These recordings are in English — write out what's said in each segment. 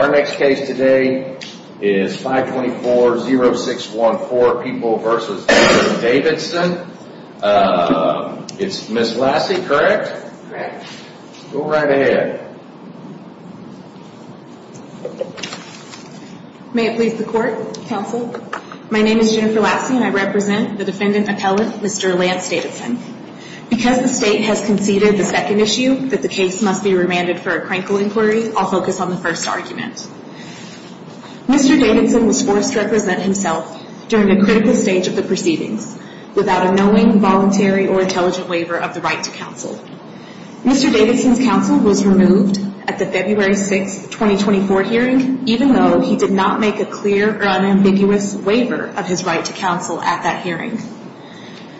Our next case today is 524-0614, People v. Davidson. It's Ms. Lassie, correct? Correct. Go right ahead. May it please the court, counsel. My name is Jennifer Lassie and I represent the defendant appellate, Mr. Lance Davidson. Because the state has conceded the second issue that the case must be remanded for a Mr. Davidson was forced to represent himself during the critical stage of the proceedings without a knowing, voluntary, or intelligent waiver of the right to counsel. Mr. Davidson's counsel was removed at the February 6, 2024 hearing, even though he did not make a clear or unambiguous waiver of his right to counsel at that hearing.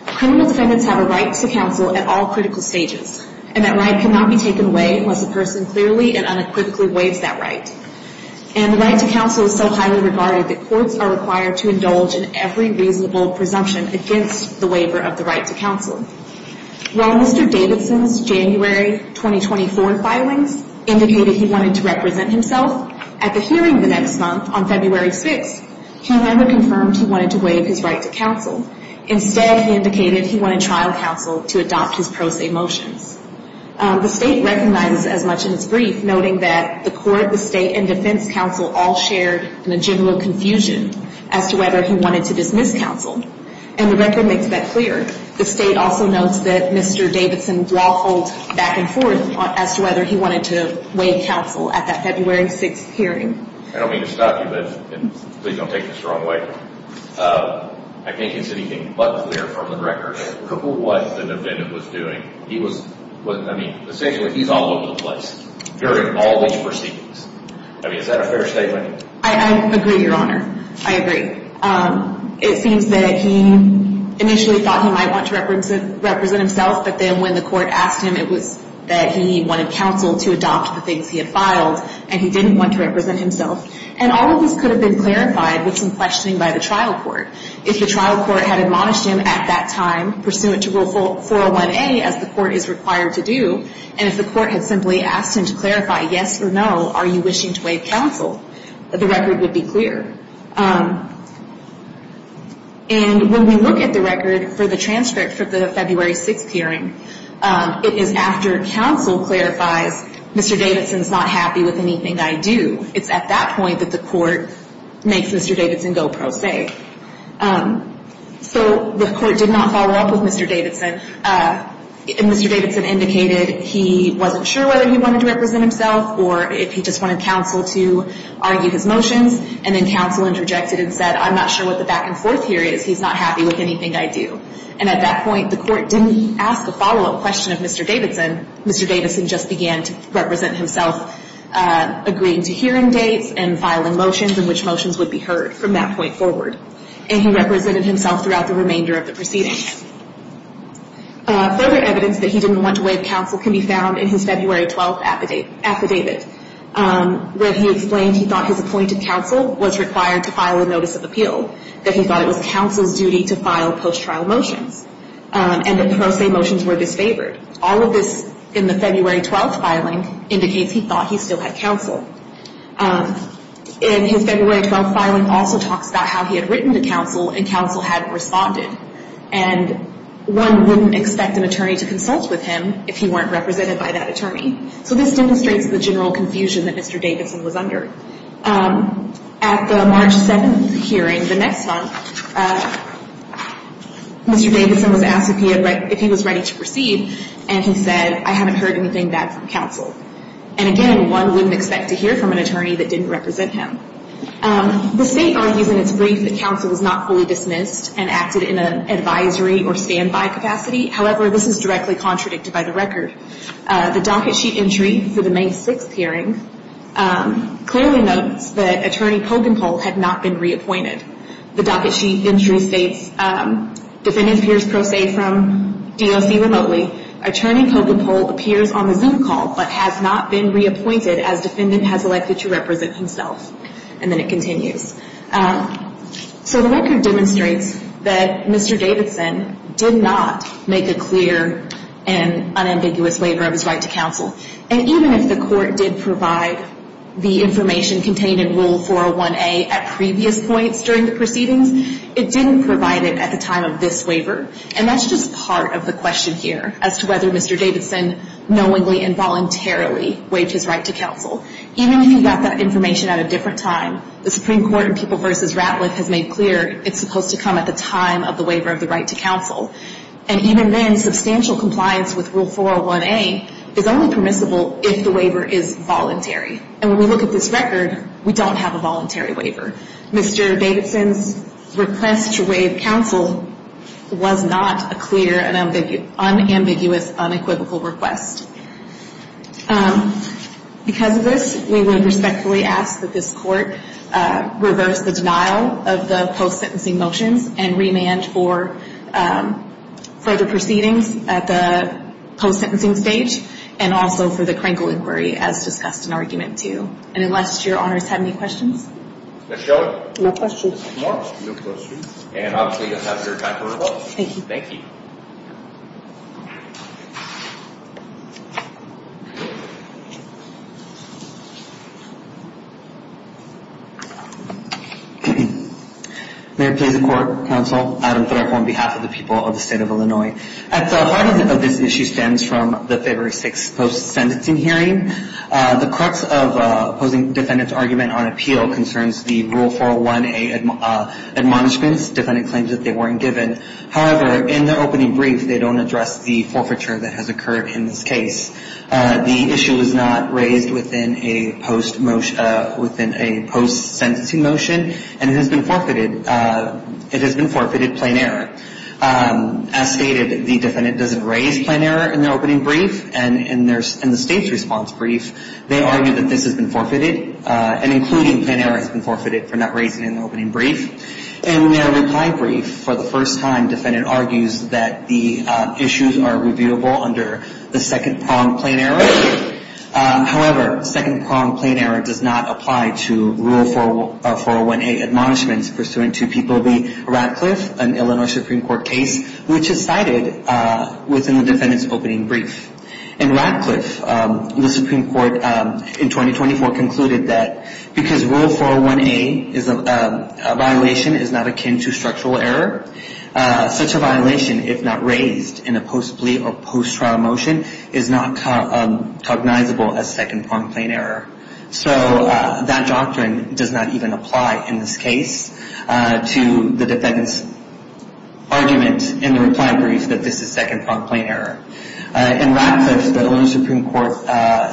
Criminal defendants have a right to counsel at all critical stages, and that right cannot be taken away unless a person clearly and unequivocally waives that right. And the right to counsel is so highly regarded that courts are required to indulge in every reasonable presumption against the waiver of the right to counsel. While Mr. Davidson's January 2024 filings indicated he wanted to represent himself at the hearing the next month on February 6, he never confirmed he wanted to waive his right to counsel. Instead, he indicated he wanted trial counsel to adopt his pro se motions. The state recognizes as much in its brief, noting that the court, the state, and defense counsel all shared an agenda of confusion as to whether he wanted to dismiss counsel. And the record makes that clear. The state also notes that Mr. Davidson waffled back and forth as to whether he wanted to waive counsel at that February 6 hearing. I don't mean to stop you, but please don't take this the wrong way. I can't consider anything but clear from the record as to what the defendant was doing. He was, I mean, essentially, he's all over the place during all these proceedings. I mean, is that a fair statement? I agree, Your Honor. I agree. It seems that he initially thought he might want to represent himself, but then when the court asked him, it was that he wanted counsel to adopt the things he had filed, and he didn't want to represent himself. And all of this could have been clarified with some questioning by the trial court. If the trial court had admonished him at that time, pursuant to Rule 401A, as the court is required to do, and if the court had simply asked him to clarify yes or no, are you wishing to waive counsel, the record would be clear. And when we look at the record for the transcript for the February 6 hearing, it is after counsel clarifies, Mr. Davidson is not happy with anything I do. It's at that point that the court makes Mr. Davidson go pro se. So the court did not follow up with Mr. Davidson, and Mr. Davidson indicated he wasn't sure whether he wanted to represent himself or if he just wanted counsel to argue his motions, and then counsel interjected and said, I'm not sure what the back and forth here is. He's not happy with anything I do. And at that point, the court didn't ask a follow-up question of Mr. Davidson. Mr. Davidson just began to represent himself, agreeing to hearing dates and filing motions in which motions would be heard from that point forward. And he represented himself throughout the remainder of the proceedings. Further evidence that he didn't want to waive counsel can be found in his February 12th affidavit, where he explained he thought his appointed counsel was required to file a notice of appeal, that he thought it was counsel's duty to file post-trial motions, and that pro se motions were disfavored. All of this in the February 12th filing indicates he thought he still had counsel. And his February 12th filing also talks about how he had written to counsel and counsel hadn't responded. And one wouldn't expect an attorney to consult with him if he weren't represented by that attorney. So this demonstrates the general confusion that Mr. Davidson was under. At the March 7th hearing, the next month, Mr. Davidson was asked if he was ready to proceed, and he said, I haven't heard anything back from counsel. And again, one wouldn't expect to hear from an attorney that didn't represent him. The state argues in its brief that counsel was not fully dismissed and acted in an advisory or standby capacity. However, this is directly contradicted by the record. The docket sheet entry for the May 6th hearing clearly notes that attorney Pogenpol had not been reappointed. The docket sheet entry states, defendant appears pro se from DOC remotely. Attorney Pogenpol appears on the Zoom call but has not been reappointed as defendant has elected to represent himself. And then it continues. So the record demonstrates that Mr. Davidson did not make a clear and unambiguous waiver of his right to counsel. And even if the court did provide the information contained in Rule 401A at previous points during the proceedings, it didn't provide it at the time of this waiver. And that's just part of the question here as to whether Mr. Davidson knowingly and voluntarily waived his right to counsel. Even if he got that information at a different time, the Supreme Court in People v. Ratliff has made clear it's supposed to come at the time of the waiver of the right to counsel. And even then, substantial compliance with Rule 401A is only permissible if the waiver is voluntary. And when we look at this record, we don't have a voluntary waiver. Mr. Davidson's request to waive counsel was not a clear and unambiguous unequivocal request. Because of this, we would respectfully ask that this court reverse the denial of the post-sentencing motions and remand for further proceedings at the post-sentencing stage and also for the Krinkle inquiry as discussed in Argument 2. And unless your honors have any questions? Ms. Shelly? No questions. Ms. Moore? No questions. And obviously, you'll have your time to revoke. Thank you. Thank you. Mayor, Pleasant Court, Counsel, Adam Thorek on behalf of the people of the state of Illinois. As the heart of this issue stems from the February 6 post-sentencing hearing, the courts of opposing defendant's argument on appeal concerns the Rule 401A admonishments. Defendant claims that they weren't given. However, in their opening brief, they don't address the forfeiture that has occurred in this case. The issue is not raised within a post-sentencing motion, and it has been forfeited. It has been forfeited plain error. As stated, the defendant doesn't raise plain error in their opening brief. And in the state's response brief, they argue that this has been forfeited, and including plain error has been forfeited for not raising it in the opening brief. In their reply brief, for the first time, defendant argues that the issues are reviewable under the second prong plain error. However, second prong plain error does not apply to Rule 401A admonishments pursuant to People v. Ratcliffe, an Illinois Supreme Court case, which is cited within the defendant's opening brief. In Ratcliffe, the Supreme Court in 2024 concluded that because Rule 401A is a violation is not akin to structural error, such a violation, if not raised in a post plea or post-trial motion, is not cognizable as second prong plain error. So that doctrine does not even apply in this case to the defendant's argument in the reply brief that this is second prong plain error. In Ratcliffe, the Illinois Supreme Court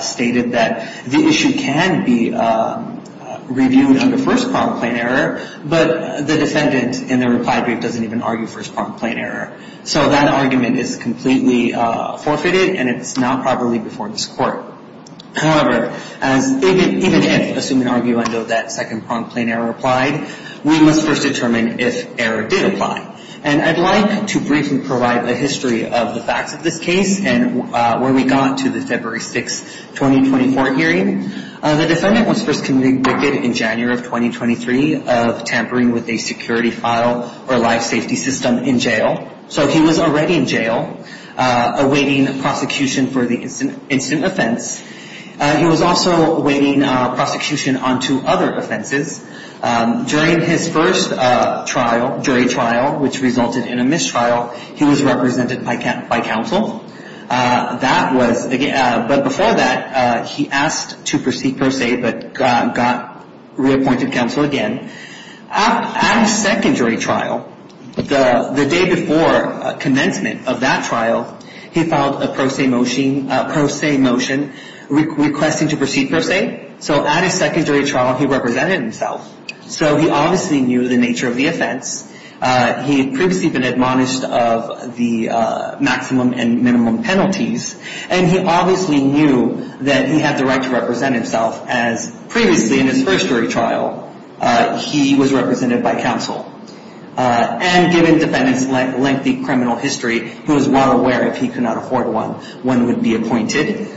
stated that the issue can be reviewed under first prong plain error, but the defendant in the reply brief doesn't even argue first prong plain error. So that argument is completely forfeited, and it's not properly before this Court. However, even if, assuming arguendo, that second prong plain error applied, we must first determine if error did apply. And I'd like to briefly provide a history of the facts of this case and where we got to the February 6, 2024 hearing. The defendant was first convicted in January of 2023 of tampering with a security file or life safety system in jail. So he was already in jail awaiting prosecution for the incident offense. He was also awaiting prosecution on two other offenses. During his first trial, jury trial, which resulted in a mistrial, he was represented by counsel. But before that, he asked to proceed pro se, but got reappointed counsel again. At his secondary trial, the day before commencement of that trial, he filed a pro se motion requesting to proceed pro se. So at his secondary trial, he represented himself. So he obviously knew the nature of the offense. He had previously been admonished of the maximum and minimum penalties, and he obviously knew that he had the right to represent himself as previously in his first jury trial, he was represented by counsel. And given the defendant's lengthy criminal history, he was well aware if he could not afford one, one would be appointed.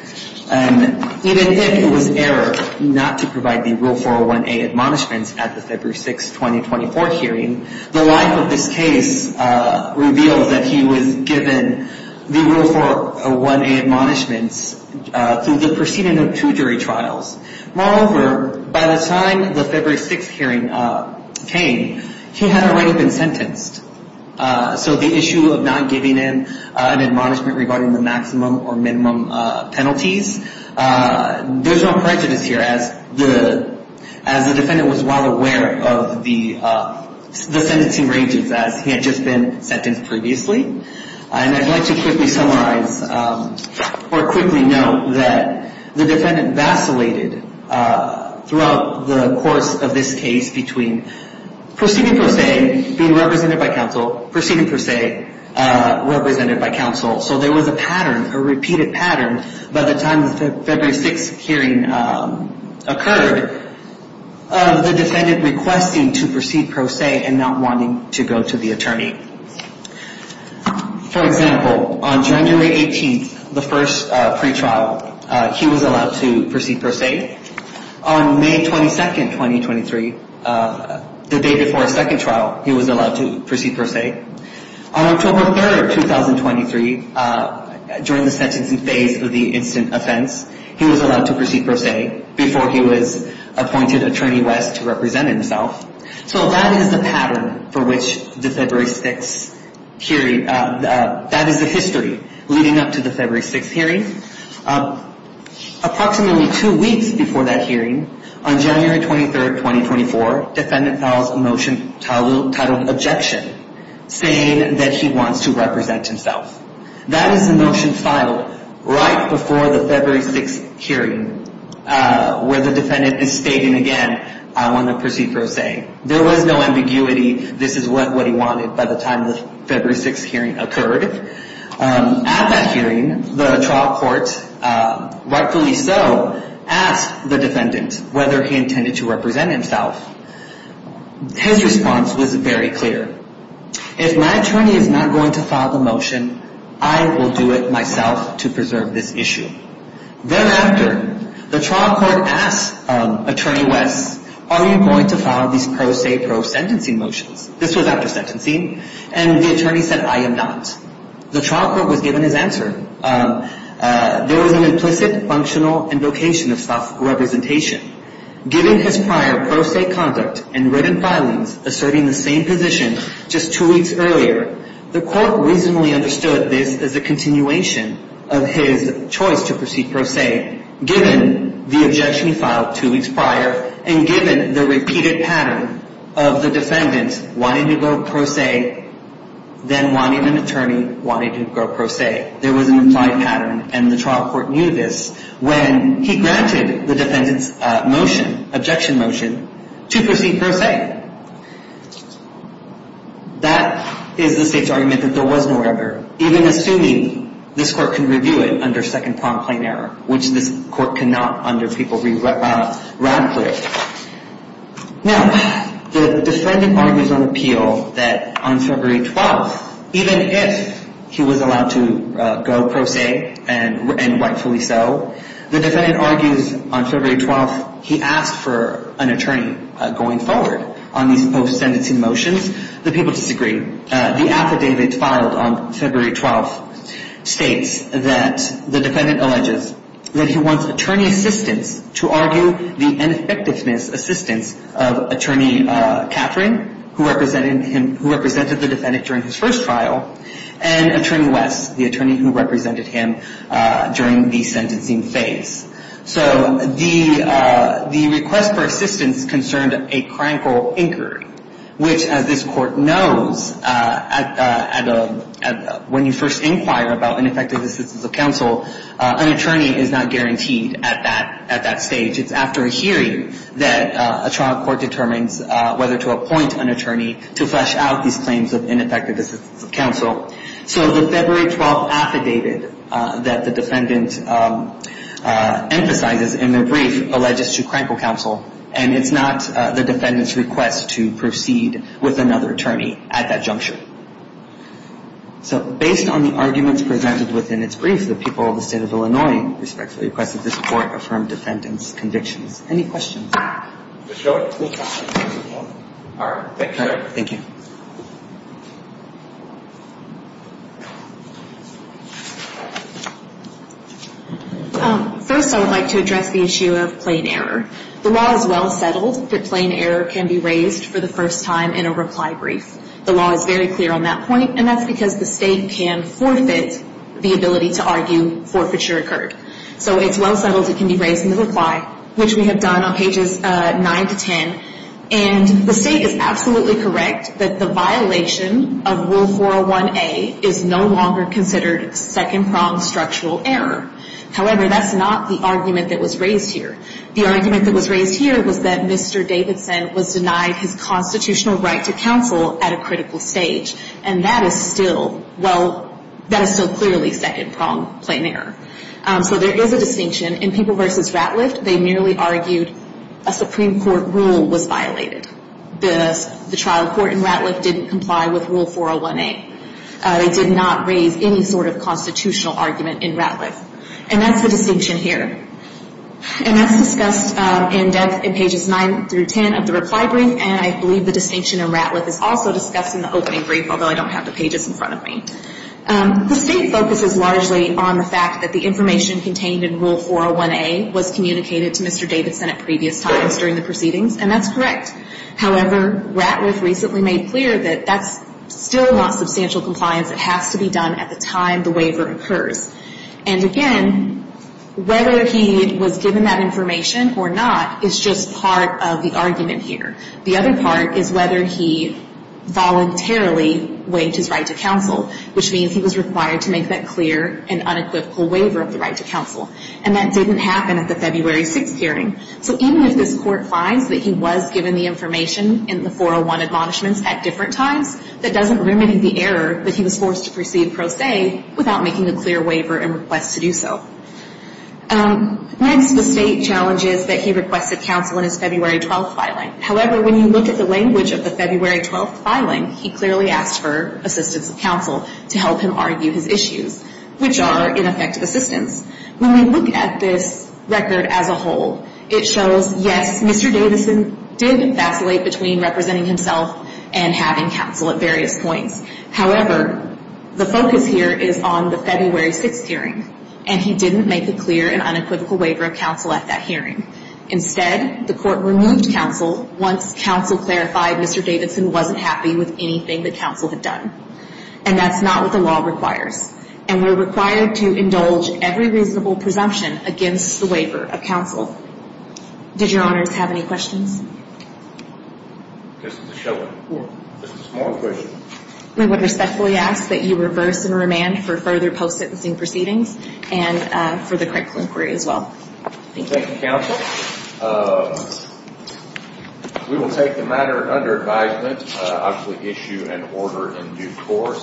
And even if it was error not to provide the rule 401A admonishments at the February 6, 2024 hearing, the life of this case revealed that he was given the rule 401A admonishments through the proceeding of two jury trials. Moreover, by the time the February 6 hearing came, he had already been sentenced. So the issue of not giving him an admonishment regarding the maximum or minimum penalties, there's no prejudice here as the defendant was well aware of the sentencing ranges as he had just been sentenced previously. And I'd like to quickly summarize or quickly note that the defendant vacillated throughout the course of this case between proceeding per se, being represented by counsel, proceeding per se, represented by counsel. So there was a pattern, a repeated pattern by the time the February 6 hearing occurred of the defendant requesting to proceed per se and not wanting to go to the attorney. For example, on January 18th, the first pre-trial, he was allowed to proceed per se. On May 22nd, 2023, the day before a second trial, he was allowed to proceed per se. On October 3rd, 2023, during the sentencing phase of the instant offense, he was allowed to proceed per se before he was appointed Attorney West to represent himself. So that is the pattern for which the February 6 hearing, that is the history leading up to the February 6 hearing. Approximately two weeks before that hearing, on January 23rd, 2024, defendant files a motion titled objection, saying that he wants to represent himself. That is the motion filed right before the February 6 hearing where the defendant is stating again, I want to proceed per se. There was no ambiguity. This is what he wanted by the time the February 6 hearing occurred. At that hearing, the trial court, rightfully so, asked the defendant whether he intended to represent himself. His response was very clear. If my attorney is not going to file the motion, I will do it myself to preserve this issue. Thereafter, the trial court asked Attorney West, are you going to file these pro se, pro sentencing motions? This was after sentencing, and the attorney said, I am not. The trial court was given his answer. There was an implicit functional invocation of self-representation. Given his prior pro se conduct and written filings asserting the same position just two weeks earlier, the court reasonably understood this as a continuation of his choice to proceed pro se, given the objection he filed two weeks prior, and given the repeated pattern of the wanting to go pro se. There was an implied pattern, and the trial court knew this when he granted the defendant's motion, objection motion, to proceed pro se. That is the state's argument that there was no error, even assuming this court can review it under second prompt plain error, which this court cannot under people read radically. Now, the defendant argues on appeal that on February 12th, even if he was allowed to go pro se, and rightfully so, the defendant argues on February 12th, he asked for an attorney going forward on these post-sentencing motions. The people disagree. The affidavit filed on February 12th states that the defendant alleges that he wants attorney assistance to argue the ineffectiveness assistance of attorney Catherine, who represented the defendant during his first trial, and attorney West, the attorney who represented him during the sentencing phase. So the request for assistance concerned a crankle incurred, which, as this court knows, when you first inquire about ineffective assistance of counsel, an attorney is not guaranteed at that stage. It's after a hearing that a trial court determines whether to appoint an attorney to flesh out these claims of ineffective assistance of counsel. So the February 12th affidavit that the defendant emphasizes in their brief alleges to crankle counsel, and it's not the defendant's request to proceed with another attorney at that juncture. So based on the arguments presented within its brief, the people of the state of Illinois respectfully request that this court affirm defendant's convictions. Any questions? All right. Thank you, sir. Thank you. First, I would like to address the issue of plain error. The law is well settled that plain error can be raised for the first time in a reply brief. The law is very clear on that point, and that's because the state can forfeit the ability to argue forfeiture occurred. So it's well settled it can be raised in the reply, which we have done on pages 9 to 10, and the state is absolutely correct that the violation of Rule 401A is no longer considered second-pronged structural error. However, that's not the argument that was raised here. The argument that was raised here was that Mr. Davidson was denied his constitutional right to counsel at a critical stage, and that is still, well, that is still clearly second-pronged plain error. So there is a distinction. In People v. Ratliff, they merely argued a Supreme Court rule was violated. The trial court in Ratliff didn't comply with Rule 401A. They did not raise any sort of constitutional argument in Ratliff. And that's the distinction here. And that's discussed in depth in pages 9 through 10 of the reply brief, and I believe the distinction in Ratliff is also discussed in the opening brief, although I don't have the pages in front of me. The state focuses largely on the fact that the information contained in Rule 401A was communicated to Mr. Davidson at previous times during the proceedings, and that's correct. However, Ratliff recently made clear that that's still not substantial compliance. It has to be done at the time the waiver occurs. And again, whether he was given that information or not is just part of the argument here. The other part is whether he voluntarily waived his right to counsel, which means he was required to make that clear and unequivocal waiver of the right to counsel. And that didn't happen at the February 6th hearing. So even if this Court finds that he was given the information in the 401 admonishments at different times, that doesn't remediate the error that he was forced to proceed pro se without making a clear waiver and request to do so. Next, the state challenges that he requested counsel in his February 12th filing. However, when you look at the language of the February 12th filing, he clearly asked for assistance of counsel to help him argue his issues, which are, in effect, assistance. When we look at this record as a whole, it shows, yes, Mr. Davidson did vacillate between representing himself and having counsel at various points. However, the focus here is on the February 6th hearing, and he didn't make a clear and unequivocal waiver of counsel at that hearing. Instead, the Court removed counsel once counsel clarified Mr. Davidson wasn't happy with anything that counsel had done. And that's not what the law requires. And we're required to indulge every reasonable presumption against the waiver of counsel. Did Your Honors have any questions? I guess it's a show of force. Just a small question. We would respectfully ask that you reverse and remand for further post-sentencing proceedings and for the critical inquiry as well. Thank you. Counsel, we will take the matter under advisement, obviously issue an order in due course.